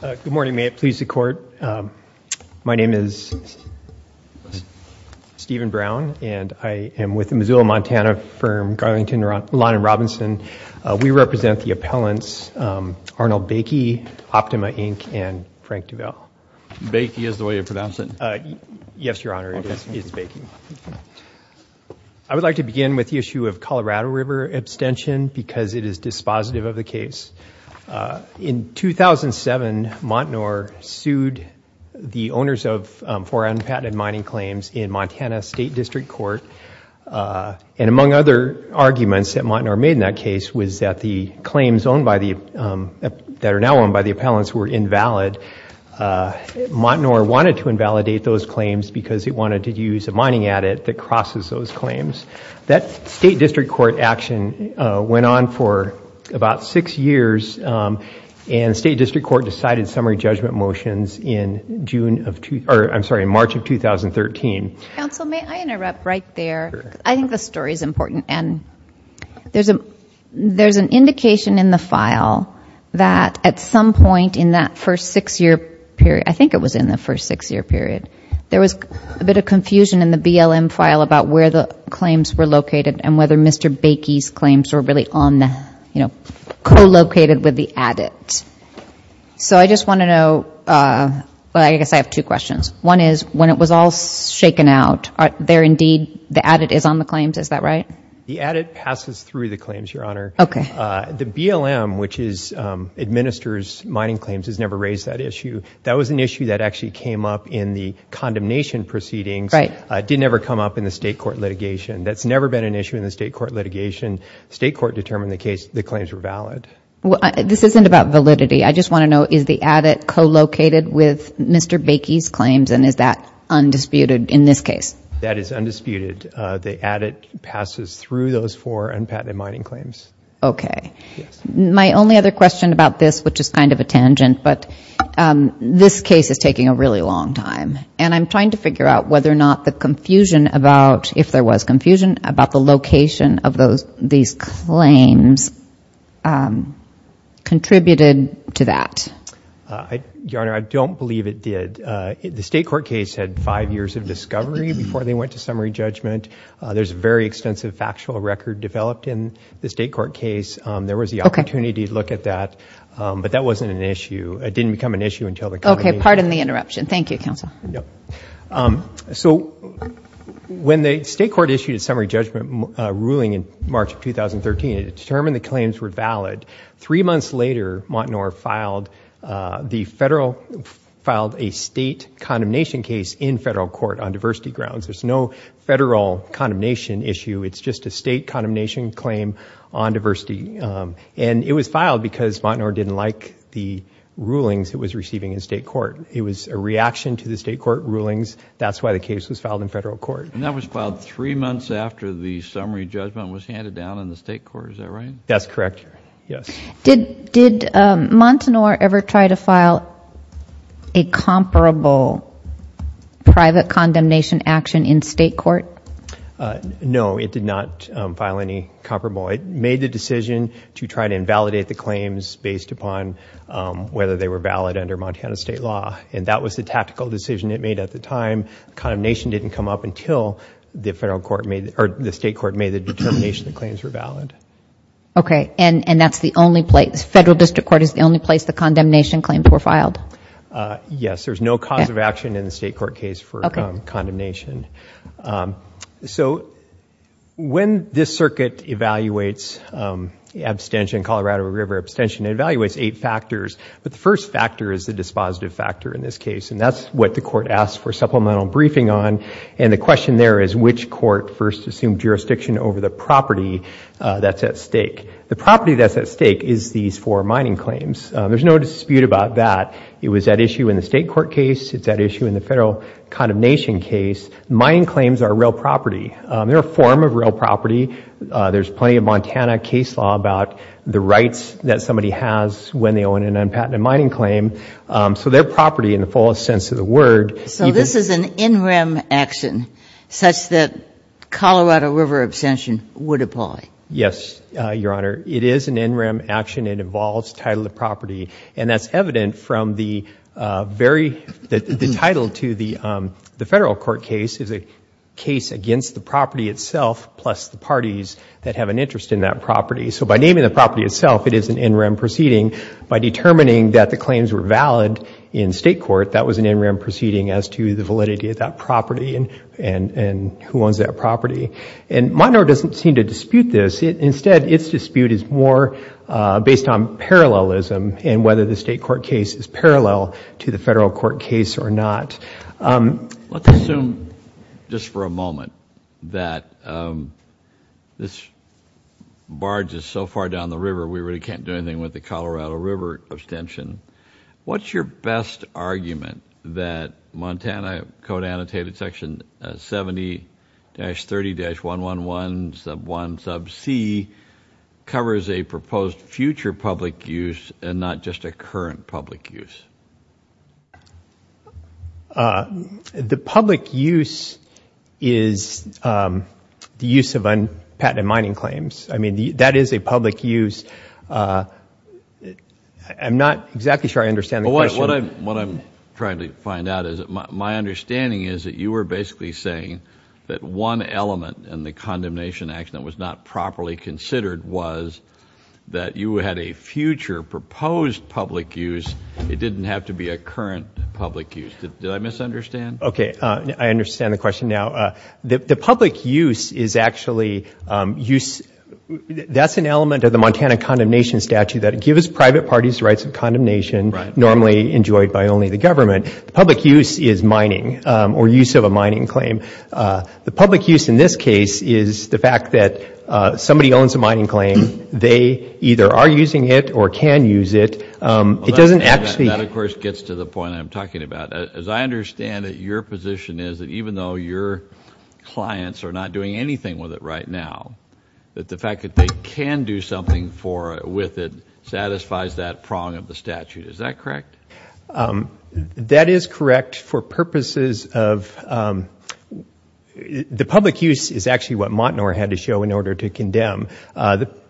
Good morning. May it please the Court. My name is Stephen Brown and I am with the Missoula, Montana firm Garlington Lawn & Robinson. We represent the appellants Arnold Bakie, Optima Inc., and Frank DuVal. Bakie is the way you pronounce it. Yes, Your Honor, it is Bakie. I would like to begin with the issue of Colorado River abstention because it is dispositive of the case. In 2007, Montanore sued the owners of four unpatented mining claims in Montana State District Court, and among other arguments that Montanore made in that case was that the claims that are now owned by the appellants were invalid. Montanore wanted to invalidate those that crosses those claims. That State District Court action went on for about six years, and State District Court decided summary judgment motions in June of, I'm sorry, in March of 2013. Counsel, may I interrupt right there? I think the story is important, and there's a there's an indication in the file that at some point in that first six-year period, I think it was in the first six-year period, there was a bit of confusion in the BLM file about where the claims were located and whether Mr. Bakie's claims were really on the, you know, co-located with the addit. So I just want to know, well, I guess I have two questions. One is when it was all shaken out, there indeed the addit is on the claims, is that right? The addit passes through the claims, Your Honor. Okay. The BLM, which administers mining claims, has never raised that issue. That was an issue that actually came up in the condemnation proceedings. Right. It didn't ever come up in the State Court litigation. That's never been an issue in the State Court litigation. State Court determined the case, the claims were valid. Well, this isn't about validity. I just want to know, is the addit co-located with Mr. Bakie's claims, and is that undisputed in this case? That is undisputed. The addit passes through those four unpatented mining claims. Okay. My only other question about this, which is kind of a tangent, but this case is taking a really long time, and I'm trying to figure out whether or not the confusion about, if there was confusion, about the location of those, these claims contributed to that. Your Honor, I don't believe it did. The State Court case had five years of discovery before they went to summary judgment. There's a very extensive factual record developed in the State Court case. There was the opportunity to look at that, but that wasn't an issue. It didn't become an issue until the company... Okay, pardon the interruption. Thank you, counsel. So when the State Court issued a summary judgment ruling in March of 2013, it determined the claims were valid. Three months later, Montenor filed the federal, filed a state condemnation case in federal court on diversity grounds. There's no federal condemnation issue. It's just a state condemnation claim on diversity, and it was filed because Montenor didn't like the rulings it was receiving in state court. It was a reaction to the state court rulings. That's why the case was filed in federal court. And that was filed three months after the summary judgment was handed down in the state court, is that right? That's correct, yes. Did, did Montenor ever try to file a comparable private condemnation action in state court? No, it did not file any comparable. It made the decision to try to invalidate the claims based upon whether they were valid under Montana state law, and that was the tactical decision it made at the time. Condemnation didn't come up until the federal court made, or the state court made the determination the claims were valid. Okay, and, and that's the only place, the federal district court is the only place the condemnation claims were filed? Yes, there's no cause of action in When this circuit evaluates abstention, Colorado River abstention, it evaluates eight factors, but the first factor is the dispositive factor in this case, and that's what the court asked for supplemental briefing on, and the question there is which court first assumed jurisdiction over the property that's at stake. The property that's at stake is these four mining claims. There's no dispute about that. It was at issue in the state court case, it's at issue in the federal condemnation case. Mining claims are real property. There are form of real property. There's plenty of Montana case law about the rights that somebody has when they own an unpatented mining claim, so their property in the fullest sense of the word. So this is an in-rem action such that Colorado River abstention would apply? Yes, Your Honor, it is an in-rem action. It involves title of property, and that's evident from the very, the title to the, the federal court case is a case against the property itself plus the parties that have an interest in that property. So by naming the property itself, it is an in-rem proceeding. By determining that the claims were valid in state court, that was an in-rem proceeding as to the validity of that property and, and, and who owns that property. And Montano doesn't seem to dispute this. Instead, its dispute is more based on parallelism and whether the state court case is parallel to the federal court case or not. Let's assume just for a moment that this barge is so far down the river we really can't do anything with the Colorado River abstention. What's your best argument that Montana code annotated section 70-30-111 sub 1 sub c covers a proposed future public use and not just a current public use? The public use is the use of unpatented mining claims. I mean, that is a public use. I'm not exactly sure I understand. What I'm, what I'm trying to find out is that my understanding is that you were basically saying that one element in the condemnation action that was not properly considered was that you had a future proposed public use. It didn't have to be a current public use. Did I misunderstand? Okay, I understand the question now. The public use is actually use, that's an element of the Montana condemnation statute that give us private parties rights of condemnation normally enjoyed by only the government. The public use is mining or use of a somebody owns a mining claim. They either are using it or can use it. It doesn't actually... That of course gets to the point I'm talking about. As I understand that your position is that even though your clients are not doing anything with it right now, that the fact that they can do something for with it satisfies that prong of the statute. Is that correct? That is correct for purposes of, the condemn. The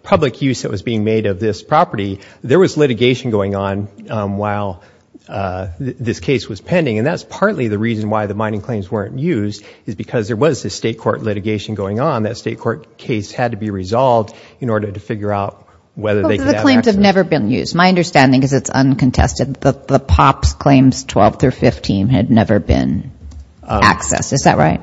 public use that was being made of this property, there was litigation going on while this case was pending and that's partly the reason why the mining claims weren't used is because there was a state court litigation going on. That state court case had to be resolved in order to figure out whether they could... The claims have never been used. My understanding is it's uncontested. The POPs claims 12 through 15 had never been accessed. Is there...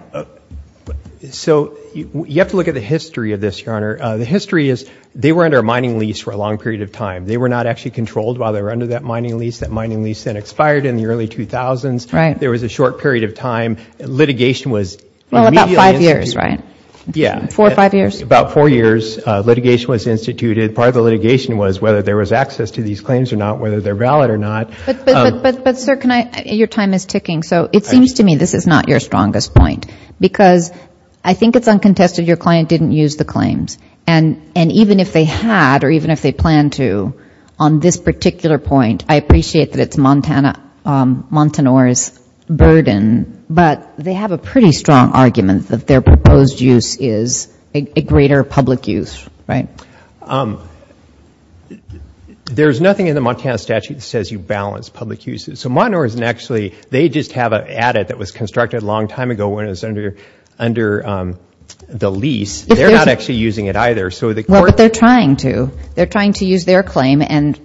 The history is they were under a mining lease for a long period of time. They were not actually controlled while they were under that mining lease. That mining lease then expired in the early 2000s. There was a short period of time. Litigation was... About five years, right? Yeah. Four or five years? About four years. Litigation was instituted. Part of the litigation was whether there was access to these claims or not, whether they're valid or not. But sir, can I... Your time is ticking. So it seems to me this is not your strongest point because I think it's uncontested. Your client didn't use the claims. And even if they had or even if they plan to, on this particular point, I appreciate that it's Montana's burden, but they have a pretty strong argument that their proposed use is a greater public use, right? There's nothing in the Montana statute that says you balance public uses. So Montana isn't actually... They just have an adit that was the lease. They're not actually using it either. So the court... Well, but they're trying to. They're trying to use their claim. And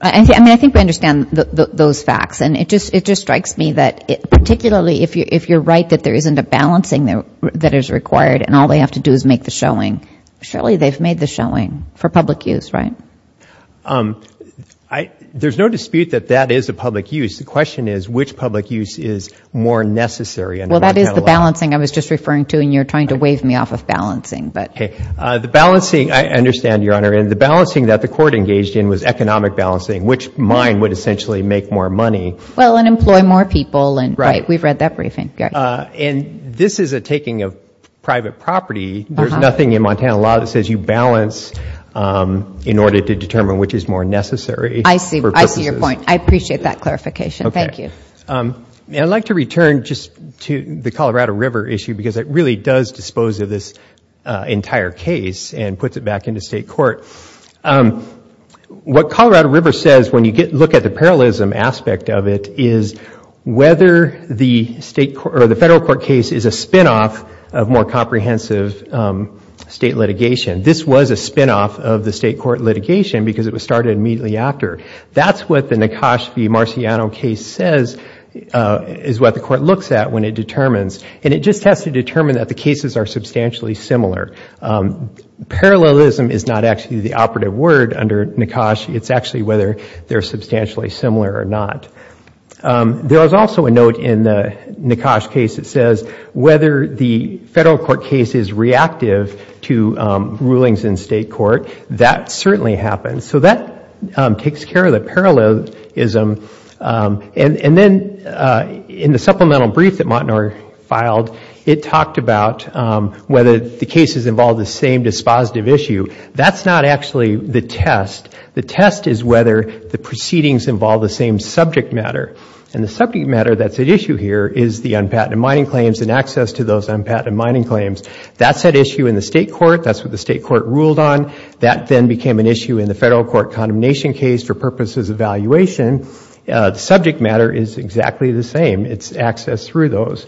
I mean, I think we understand those facts. And it just strikes me that particularly if you're right that there isn't a balancing that is required and all they have to do is make the showing, surely they've made the showing for public use, right? There's no dispute that that is a public use. The question is which public use is more necessary. Well, that is the balancing. I understand, Your Honor. And the balancing that the court engaged in was economic balancing, which mine would essentially make more money. Well, and employ more people. Right. We've read that briefing. And this is a taking of private property. There's nothing in Montana law that says you balance in order to determine which is more necessary. I see. I see your point. I appreciate that clarification. Thank you. I'd like to return just to the Colorado River issue because it really does dispose of this entire case and puts it back into state court. What Colorado River says when you get look at the parallelism aspect of it is whether the state or the federal court case is a spinoff of more comprehensive state litigation. This was a spinoff of the state court litigation because it was started immediately after. That's what the Nekashvi-Marciano case says is what the court looks at when it determines. And it just has to determine that the cases are substantially similar. Parallelism is not actually the operative word under Nekash. It's actually whether they're substantially similar or not. There was also a note in the Nekash case that says whether the federal court case is reactive to rulings in state court. That certainly happens. So that takes care of the And then in the supplemental brief that Mottnor filed, it talked about whether the cases involve the same dispositive issue. That's not actually the test. The test is whether the proceedings involve the same subject matter. And the subject matter that's at issue here is the unpatented mining claims and access to those unpatented mining claims. That's at issue in the state court. That's what the state court ruled on. That then became an issue in the federal court And then in the condemnation case, for purposes of evaluation, the subject matter is exactly the same. It's access through those.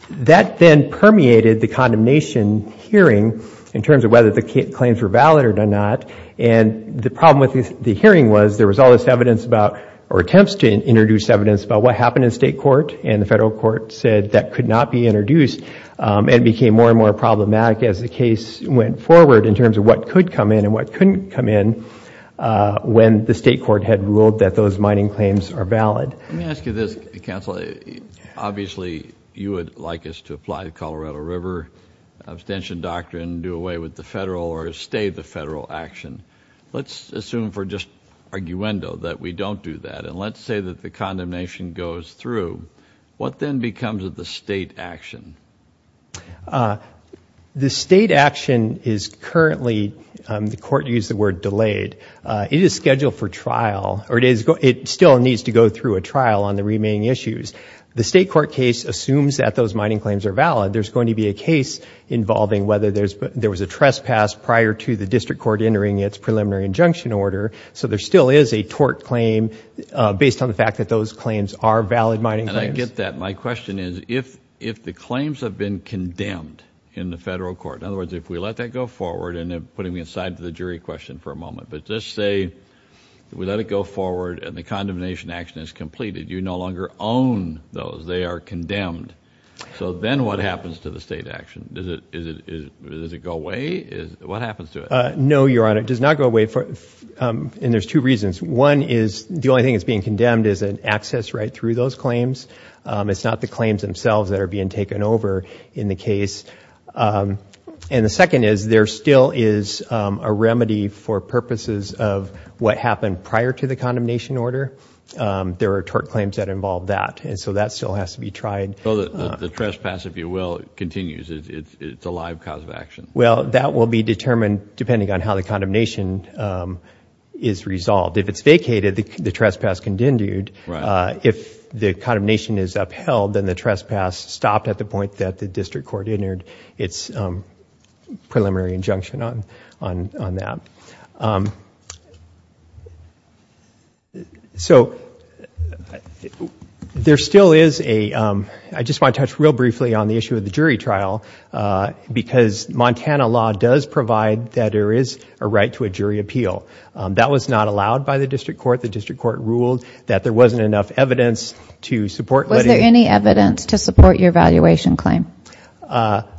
That then permeated the condemnation hearing in terms of whether the claims were valid or not. And the problem with the hearing was there was all this evidence about or attempts to introduce evidence about what happened in state court. And the federal court said that could not be introduced and became more and more problematic as the case went forward in terms of what could come in and what couldn't come in when the state court had ruled that those mining claims are valid. Let me ask you this, counsel. Obviously you would like us to apply the Colorado River abstention doctrine and do away with the federal or stay the federal action. Let's assume for just arguendo that we don't do that. And let's say that the condemnation goes through. What then becomes of the state action? The state court used the word delayed. It is scheduled for trial. It still needs to go through a trial on the remaining issues. The state court case assumes that those mining claims are valid. There's going to be a case involving whether there was a trespass prior to the district court entering its preliminary injunction order. So there still is a tort claim based on the fact that those claims are valid mining claims. And I get that. My question is, if the claims have been condemned in the federal court, in other words, if we let that go forward and putting me aside to the jury question for a moment, but just say we let it go forward and the condemnation action is completed. You no longer own those. They are condemned. So then what happens to the state action? Does it go away? What happens to it? No, Your Honor. It does not go away. And there's two reasons. One is the only thing that's being condemned is an access right through those claims. It's not the claims themselves that are being taken over in the case. And the second is there still is a remedy for purposes of what happened prior to the condemnation order. There are tort claims that involve that. And so that still has to be tried. So the trespass, if you will, continues. It's a live cause of action. Well, that will be determined depending on how the condemnation is resolved. If it's vacated, the trespass continued. If the condemnation is upheld, then the trespass stopped at the point that the district court entered its preliminary injunction on that. So there still is a... I just want to touch real briefly on the issue of the jury trial because Montana law does provide that there is a right to a jury appeal. That was not allowed by the district court. The district court ruled that there wasn't enough evidence to support your valuation claim.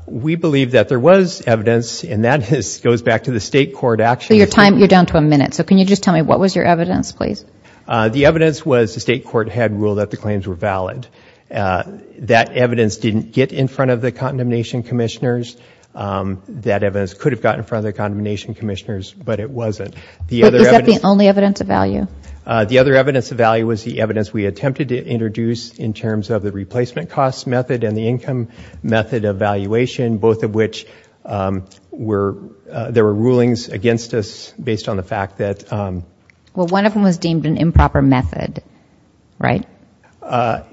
We believe that there was evidence, and that goes back to the state court action. Your time, you're down to a minute. So can you just tell me what was your evidence, please? The evidence was the state court had ruled that the claims were valid. That evidence didn't get in front of the condemnation commissioners. That evidence could have gotten further condemnation commissioners, but it wasn't. Is that the only evidence of value? The other evidence of value was the evidence we attempted to introduce in terms of the replacement cost method and the income method of valuation, both of which were... there were rulings against us based on the fact that... Well, one of them was deemed an improper method, right?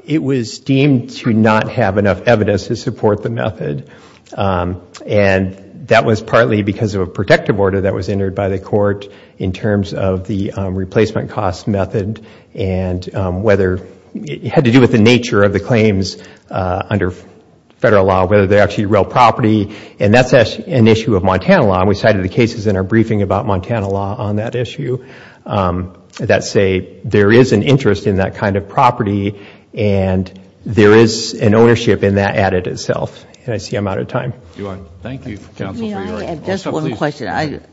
It was deemed to not have enough evidence to support the method, and that was partly because of a protective order that was entered by the court in terms of the replacement cost method and whether... it had to do with the nature of the claims under federal law, whether they're actually real property, and that's an issue of Montana law, and we cited the cases in our briefing about Montana law on that issue that say there is an interest in that kind of property, and there is an ownership in that at it itself, and I see I'm out of time. Thank you.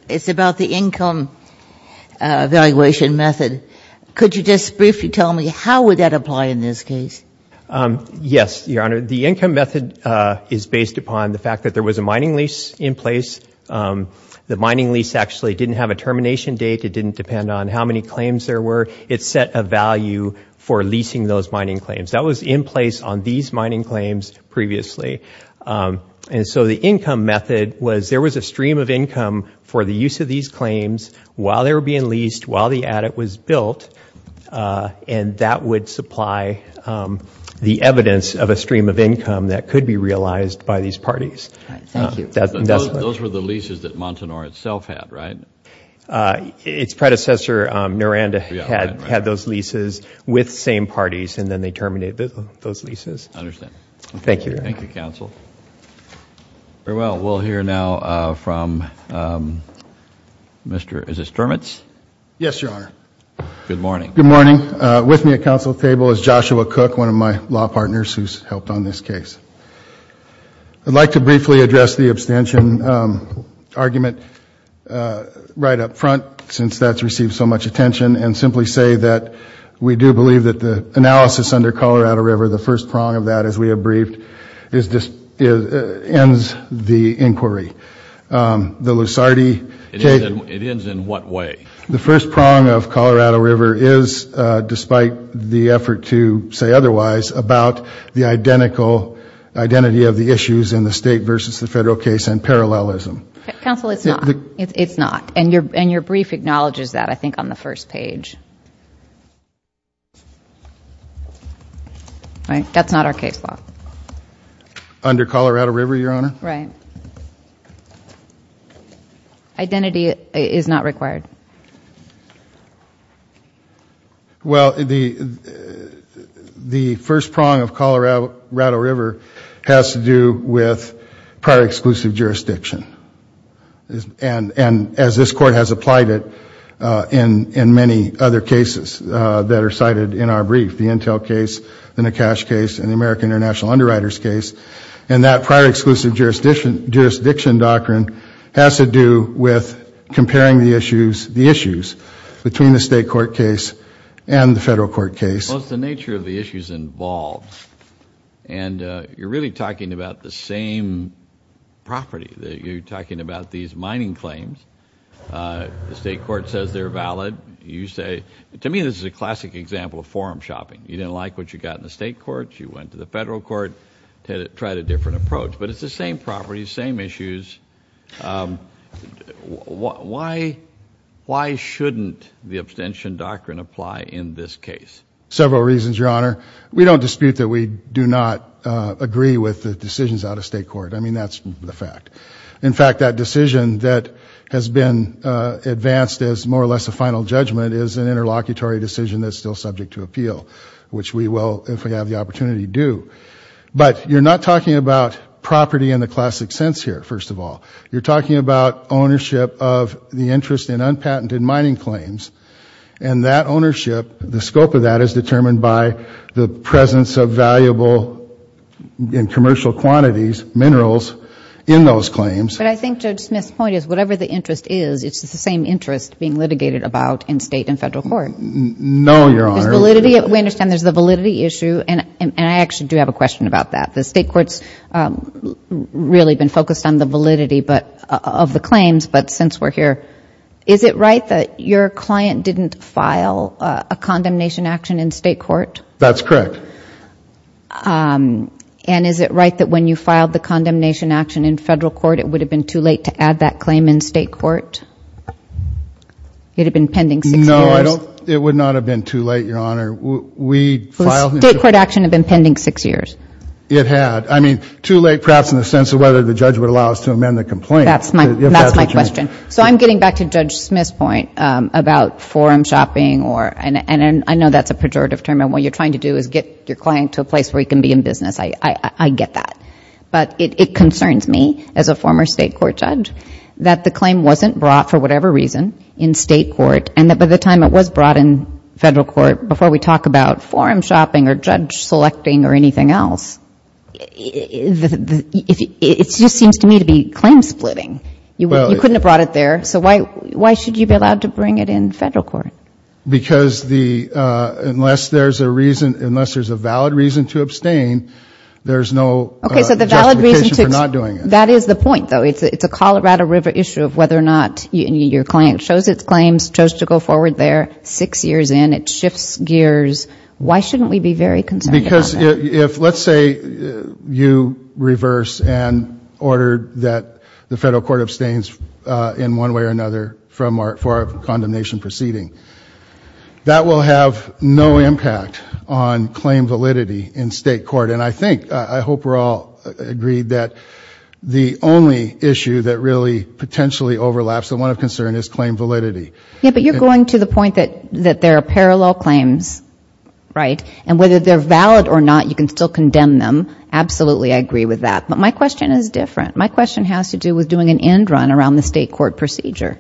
It's about the income valuation method. Could you just briefly tell me how would that apply in this case? Yes, Your Honor. The income method is based upon the fact that there was a mining lease in place. The mining lease actually didn't have a termination date. It didn't depend on how many claims there were. It set a value for leasing those mining claims. That was in place on these mining claims previously, and so the income method was... there was a stream of income for the use of these claims while they were being leased, while the attic was built, and that would supply the evidence of a stream of income that could be realized by these parties. Those were the leases that Montanora itself had, right? Its predecessor, Noranda, had had those leases with same parties, and then they terminated those leases. I understand. Thank you. Thank you, Counsel. Very well, we'll hear now from Mr. Sturmitz. Yes, Your Honor. Good morning. Good morning. With me at counsel table is Joshua Cook, one of my law partners who's helped on this case. I'd like to briefly address the abstention argument right up front since that's received so much attention, and simply say that we do believe that the analysis under Colorado River, the first prong of that as we have briefed, ends the inquiry. The Lusardi... It ends in what way? The first prong of despite the effort to say otherwise, about the identity of the issues in the state versus the federal case and parallelism. Counsel, it's not. It's not. And your brief acknowledges that, I think, on the first page. Right? That's not our case law. Under Colorado River, Your Honor? Right. Identity is not required. Well, the first prong of Colorado River has to do with prior exclusive jurisdiction. And as this court has applied it in many other cases that are cited in our brief, the Intel case, the Nakash case, and the American International Underwriters case. And that prior exclusive jurisdiction doctrine has to do with comparing the issues between the state court case and the federal court case. Well, it's the nature of the issues involved. And you're really talking about the same property. That you're talking about these mining claims. The state court says they're valid. You say... To me, this is a classic example of forum shopping. You didn't like what you got in the state courts. You went to the federal court to try a different approach. But it's the same properties, same issues. Why shouldn't the abstention doctrine apply in this case? Several reasons, Your Honor. We don't dispute that we do not agree with the decisions out of state court. I mean, that's the fact. In fact, that decision that has been advanced as more or less a final judgment is an interlocutory decision that's still subject to appeal. Which we will, if we have the opportunity, do. But you're not talking about property in the classic sense here, first of all. You're talking about ownership of the interest in unpatented mining claims. And that ownership, the scope of that is determined by the presence of valuable and commercial quantities, minerals, in those claims. But I think Judge Smith's point is whatever the interest is, it's the same interest being litigated about in state and federal court. No, Your Honor. We understand there's the validity issue. And I actually do have a question about that. The state court's really been focused on the validity of the claims. But since we're here, is it right that your client didn't file a condemnation action in state court? That's correct. And is it right that when you filed the condemnation action in federal court, it would have been too late to add that claim in state court? It had been pending six years. No, it would not have been too late, Your Honor. State court action had been pending six years. It had. I mean, too late perhaps in the sense of whether the judge would allow us to amend the complaint. That's my question. So I'm getting back to Judge Smith's point about forum shopping or, and I know that's a pejorative term, and what you're trying to do is get your client to a place where he can be in business. I get that. But it concerns me, as a former state court judge, that the claim wasn't brought, for whatever reason, in state court. And by the time it was brought in federal court, before we talk about forum shopping or judge selecting or anything else, it just seems to me to be claim splitting. You couldn't have brought it there. So why should you be allowed to bring it in federal court? Because unless there's a reason, unless there's a valid reason to abstain, there's no justification for not doing it. That is the point, though. It's a Colorado River issue of whether or not your client shows its claims, chose to go forward there, six years in, it shifts gears. Why shouldn't we be very concerned about that? Because if, let's say, you reverse an order that the federal court abstains in one way or another from our, for our condemnation proceeding, that will have no impact on claim validity in state court. And I think, I hope we're all agreed, that the only issue that really potentially overlaps and one of concern is claim validity. Yeah, but you're going to the point that that there are parallel claims, right? And whether they're valid or not, you can still condemn them. Absolutely, I agree with that. But my question is different. My question has to do with doing an end run around the state court procedure.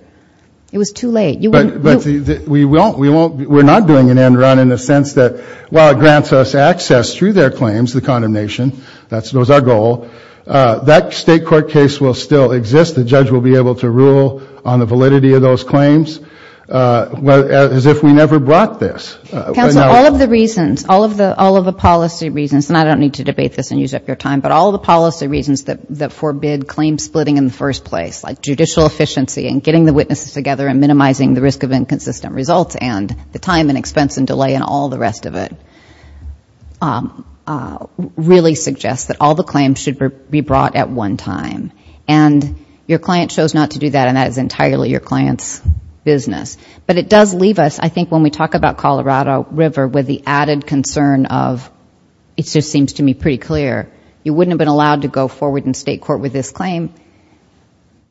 It was too late. But we won't, we won't, we're not doing an end run in the sense that, while it grants us access through their claims, the condemnation, that was our goal, that state court case will still be able to rule on the validity of those claims, as if we never brought this. Counsel, all of the reasons, all of the, all of the policy reasons, and I don't need to debate this and use up your time, but all the policy reasons that forbid claim splitting in the first place, like judicial efficiency and getting the witnesses together and minimizing the risk of inconsistent results and the time and expense and delay and all the rest of it, really suggests that all the claims should be brought at one time. And your client chose not to do that, and that is entirely your client's business. But it does leave us, I think, when we talk about Colorado River, with the added concern of, it just seems to me pretty clear, you wouldn't have been allowed to go forward in state court with this claim,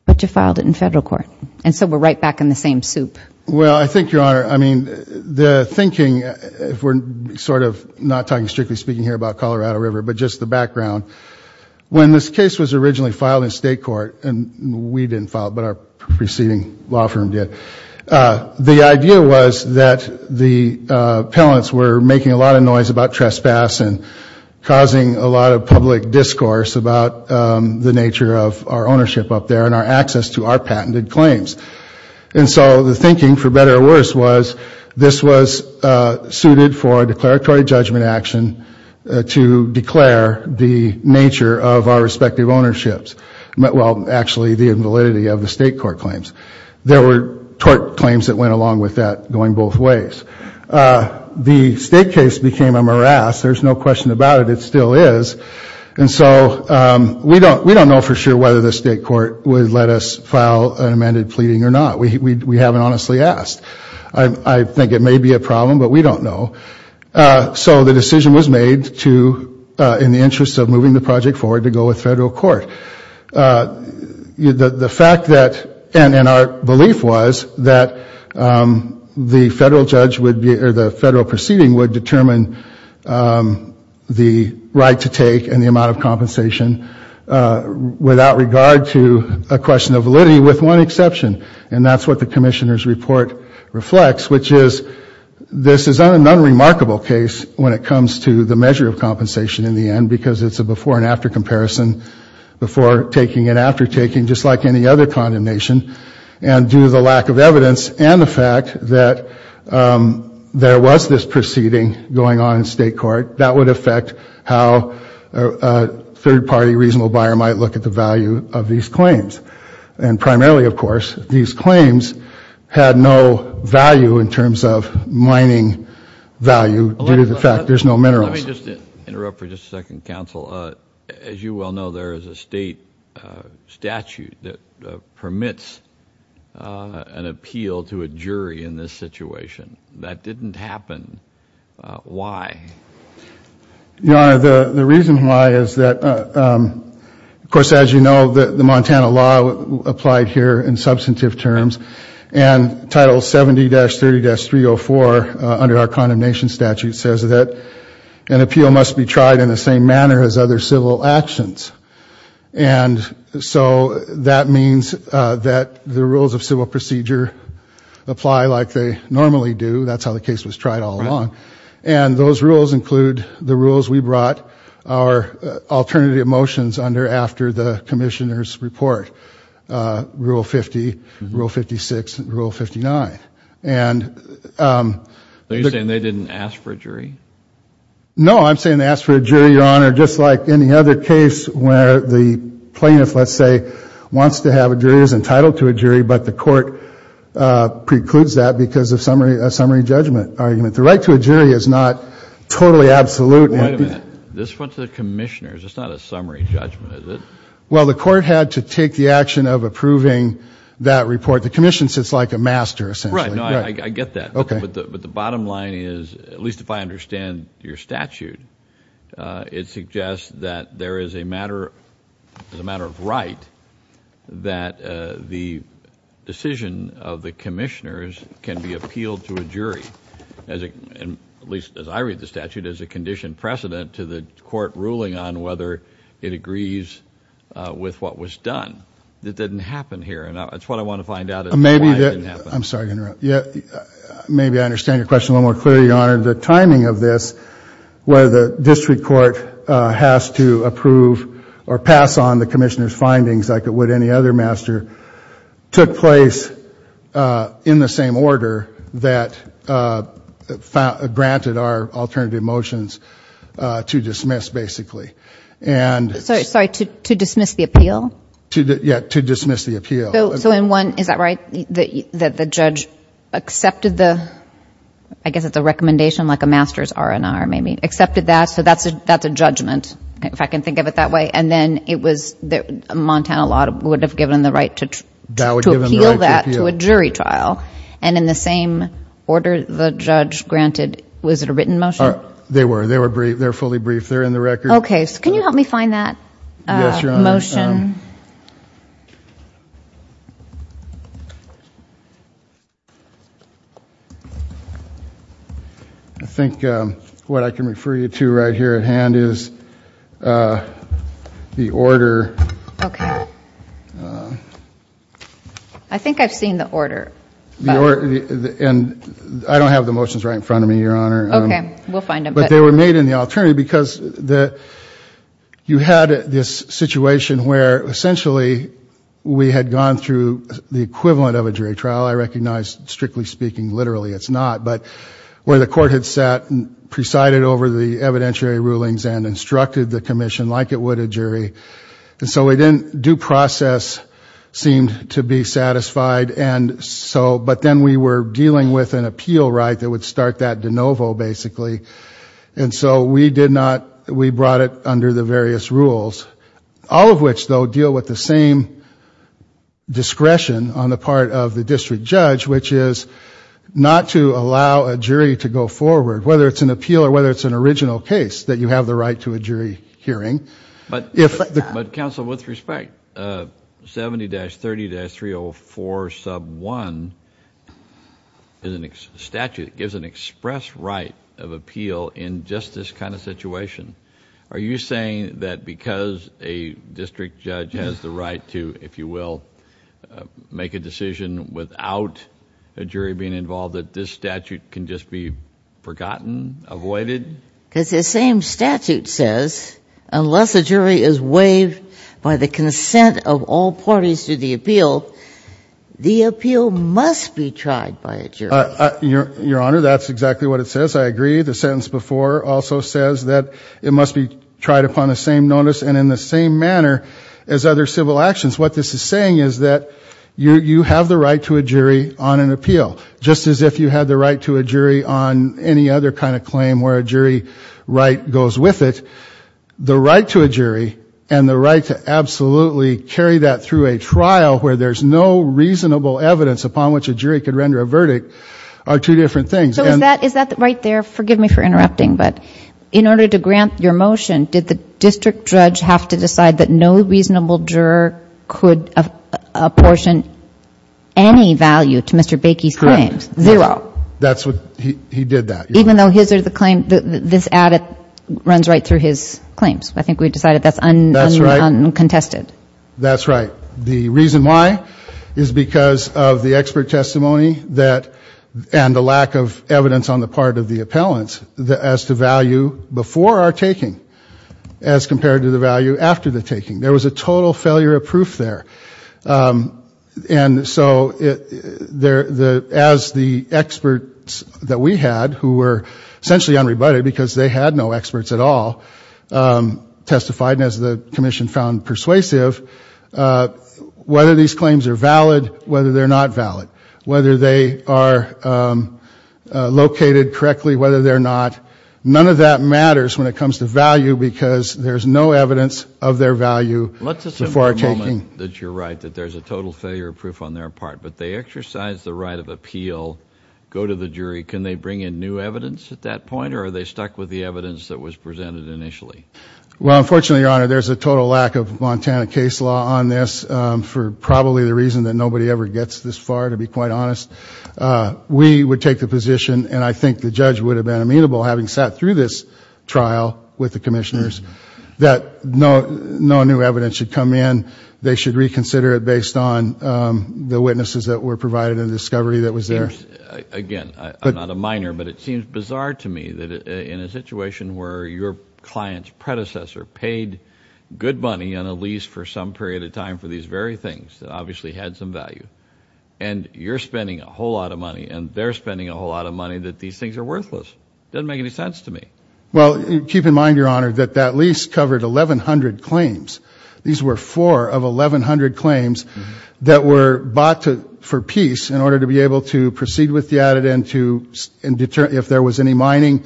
but you filed it in federal court. And so we're right back in the same soup. Well, I think, Your Honor, I mean, the thinking, if we're sort of not talking strictly speaking here about Colorado River, but just the didn't file it, but our preceding law firm did, the idea was that the appellants were making a lot of noise about trespass and causing a lot of public discourse about the nature of our ownership up there and our access to our patented claims. And so the thinking, for better or worse, was this was suited for declaratory judgment action to declare the nature of our respective ownerships. Well, actually, the invalidity of the state court claims. There were tort claims that went along with that, going both ways. The state case became a morass. There's no question about it. It still is. And so we don't, we don't know for sure whether the state court would let us file an amended pleading or not. We haven't honestly asked. I think it may be a problem, but we don't know. So the decision was made to, in the interest of moving the project forward, to go with federal court. The fact that, and our belief was that the federal judge would be, or the federal proceeding would determine the right to take and the amount of compensation without regard to a question of validity with one exception. And that's what the Commissioner's Report reflects, which is this is an unremarkable case when it comes to the measure of compensation in the end, because it's a before-and-after comparison before taking and after taking, just like any other condemnation. And due to the lack of evidence and the fact that there was this proceeding going on in state court, that would affect how a third-party reasonable buyer might look at the value of these claims. And primarily, of course, these claims had no value in terms of mining value due to the fact there's no minerals. Let me just interrupt for just a second, counsel. As you well know, there is a state statute that permits an appeal to a jury in this situation. That didn't happen. Why? Your Honor, the reason why is that, of course, as you know, the Montana law applied here in substantive terms and Title 70-30-304 under our Condemnation Statute says that an appeal must be tried in the same manner as other civil actions. And so that means that the rules of civil procedure apply like they normally do. That's how the case was tried all along. And those rules include the rules we brought our alternative motions under after the Commissioner's report, Rule 50, Rule 56, Rule 59. And... Are you saying they didn't ask for a jury? No, I'm saying they asked for a jury, Your Honor, just like any other case where the plaintiff, let's say, wants to have a jury, is entitled to a jury, but the court precludes that because of a summary judgment argument. The right to a jury is not totally absolute. Wait a minute. This went to the Commissioners. It's not a summary judgment, is it? Well, the court had to take the action of approving that report. The Commission sits like a master, essentially. Right, I get that. Okay. But the bottom line is, at least if I understand your statute, it suggests that there is a matter, as a matter of right, that the decision of the Commissioners can be appealed to a jury, at least as I read the statute, as a conditioned precedent to the court ruling on whether it agrees with what was done. That didn't happen here, and that's what I want to find out is why it didn't happen. I'm sorry to interrupt. Yeah, maybe I understand your question a little more clearly, Your Honor. The timing of this, where the District Court has to approve or pass on the Commissioners' findings like it would any other master, took place in the same order that granted our alternative motions to dismiss, basically. Sorry, to dismiss the appeal? Yeah, to dismiss the appeal. So in one, is that right, that the judge accepted the, I guess it's a recommendation like a master's R&R, maybe, accepted that, so that's a judgment, if I can think of it that way, and then it was the Montana law would have given the right to appeal that to a jury trial, and in the same order the judge granted, was it a written motion? They were, they were briefed, they're fully briefed, they're in the record. Okay, so can you help me find that motion? I think what I can refer you to right here at hand is the order. Okay, I think I've seen the order. The order, and I don't have the motions right in front of me, Your Honor. Okay, we'll find them. But they were made in the alternative because the, you had this situation where essentially we had gone through the equivalent of a jury trial, I recognize strictly speaking, literally it's not, but where the court had sat and presided over the evidentiary rulings and instructed the commission like it would a jury, and so we didn't, due process seemed to be satisfied, and so, but then we were dealing with an appeal right that would that de novo basically, and so we did not, we brought it under the various rules, all of which though deal with the same discretion on the part of the district judge, which is not to allow a jury to go forward, whether it's an appeal or whether it's an original case, that you have the right to a jury hearing. But if counsel, with respect, 70-30-304 sub 1 is a statute that gives an express right of appeal in just this kind of situation. Are you saying that because a district judge has the right to, if you will, make a decision without a jury being involved, that this statute can just be forgotten, avoided? Because the same statute says, unless a jury is waived by the consent of all parties to the appeal, the appeal must be tried by a jury. Your Honor, that's exactly what it says. I agree. The sentence before also says that it must be tried upon the same notice and in the same manner as other civil actions. What this is saying is that you have the right to a jury on an appeal, just as if you had the right to a jury on an appeal, the same right goes with it. The right to a jury and the right to absolutely carry that through a trial where there's no reasonable evidence upon which a jury could render a verdict are two different things. So is that right there? Forgive me for interrupting, but in order to grant your motion, did the district judge have to decide that no reasonable juror could apportion any value to Mr. Baikie's claims? Correct. Zero. That's what, he did that. Even though this ad runs right through his claims. I think we decided that's uncontested. That's right. The reason why is because of the expert testimony and the lack of evidence on the part of the appellants as to value before our taking as compared to the value after the taking. There was a total failure of proof on their part, but they exercise the right of appeal, go to the jury, can they bring in new evidence at that point, or are they stuck with the evidence that was presented initially? Well, unfortunately, your honor, there's a total lack of Montana case law on this for probably the reason that nobody ever gets this far, to be quite honest. We would take the position, and I think the judge would have been amenable having sat through this trial with the commissioners, that no new evidence should come in. They should reconsider it based on the witnesses that were provided in the discovery that was there. Again, I'm not a miner, but it seems bizarre to me that in a situation where your client's predecessor paid good money on a lease for some period of time for these very things that obviously had some value, and you're spending a whole lot of money, and they're spending a whole lot of money that these things are worthless. Doesn't make any sense to me. Well, keep in mind, your honor, that that lease covered 1,100 claims. These were four of 1,100 claims that were bought for peace in order to be able to proceed with the added end to deter, if there was any mining,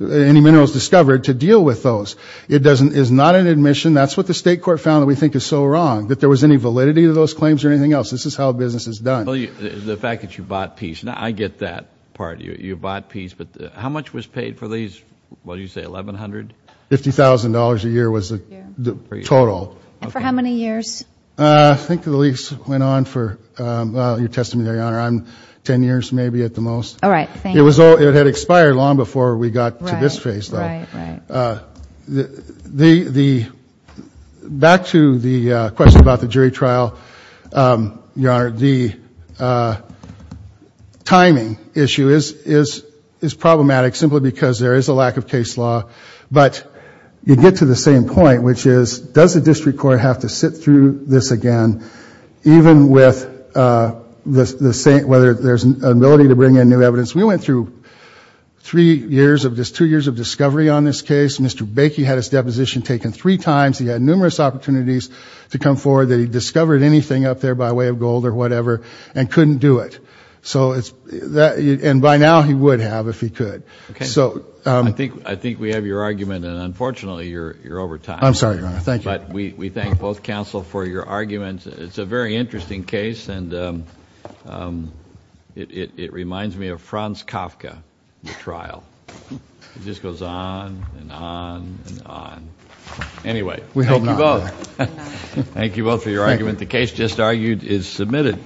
any minerals discovered, to deal with those. It is not an admission. That's what the state court found that we think is so wrong, that there was any validity to those claims or anything else. This is how business is done. The fact that you bought peace, now I get that part. You bought peace, but how much was paid for these, what do you say, 1,100? $50,000 a year was the total. For how many years? I think the lease went on for, your testimony, your honor, I'm ten years maybe at the most. All right. It was all, it had expired long before we got to this phase. The, the, back to the question about the jury trial, your honor, the timing issue is, is, is problematic simply because there is a lack of case law, but you get to the same point, which is, does the district court have to sit through this again, even with the, the same, whether there's an ability to bring in new evidence? We went through three years of this, two years of discovery on this case. Mr. Bakey had his deposition taken three times. He had numerous opportunities to come forward that he discovered anything up there by way of gold or whatever, and couldn't do it. So it's, that, and by now he would have if he could. Okay. So. I think, I think we have your argument and unfortunately you're, you're over time. I'm sorry, your honor. Thank you. But we, we thank both counsel for your arguments. It's a very interesting case and it, it, it reminds me of Franz Kafka, the trial. It just goes on and on and on. Anyway. We hope not. Thank you both for your argument. The case just argued is submitted.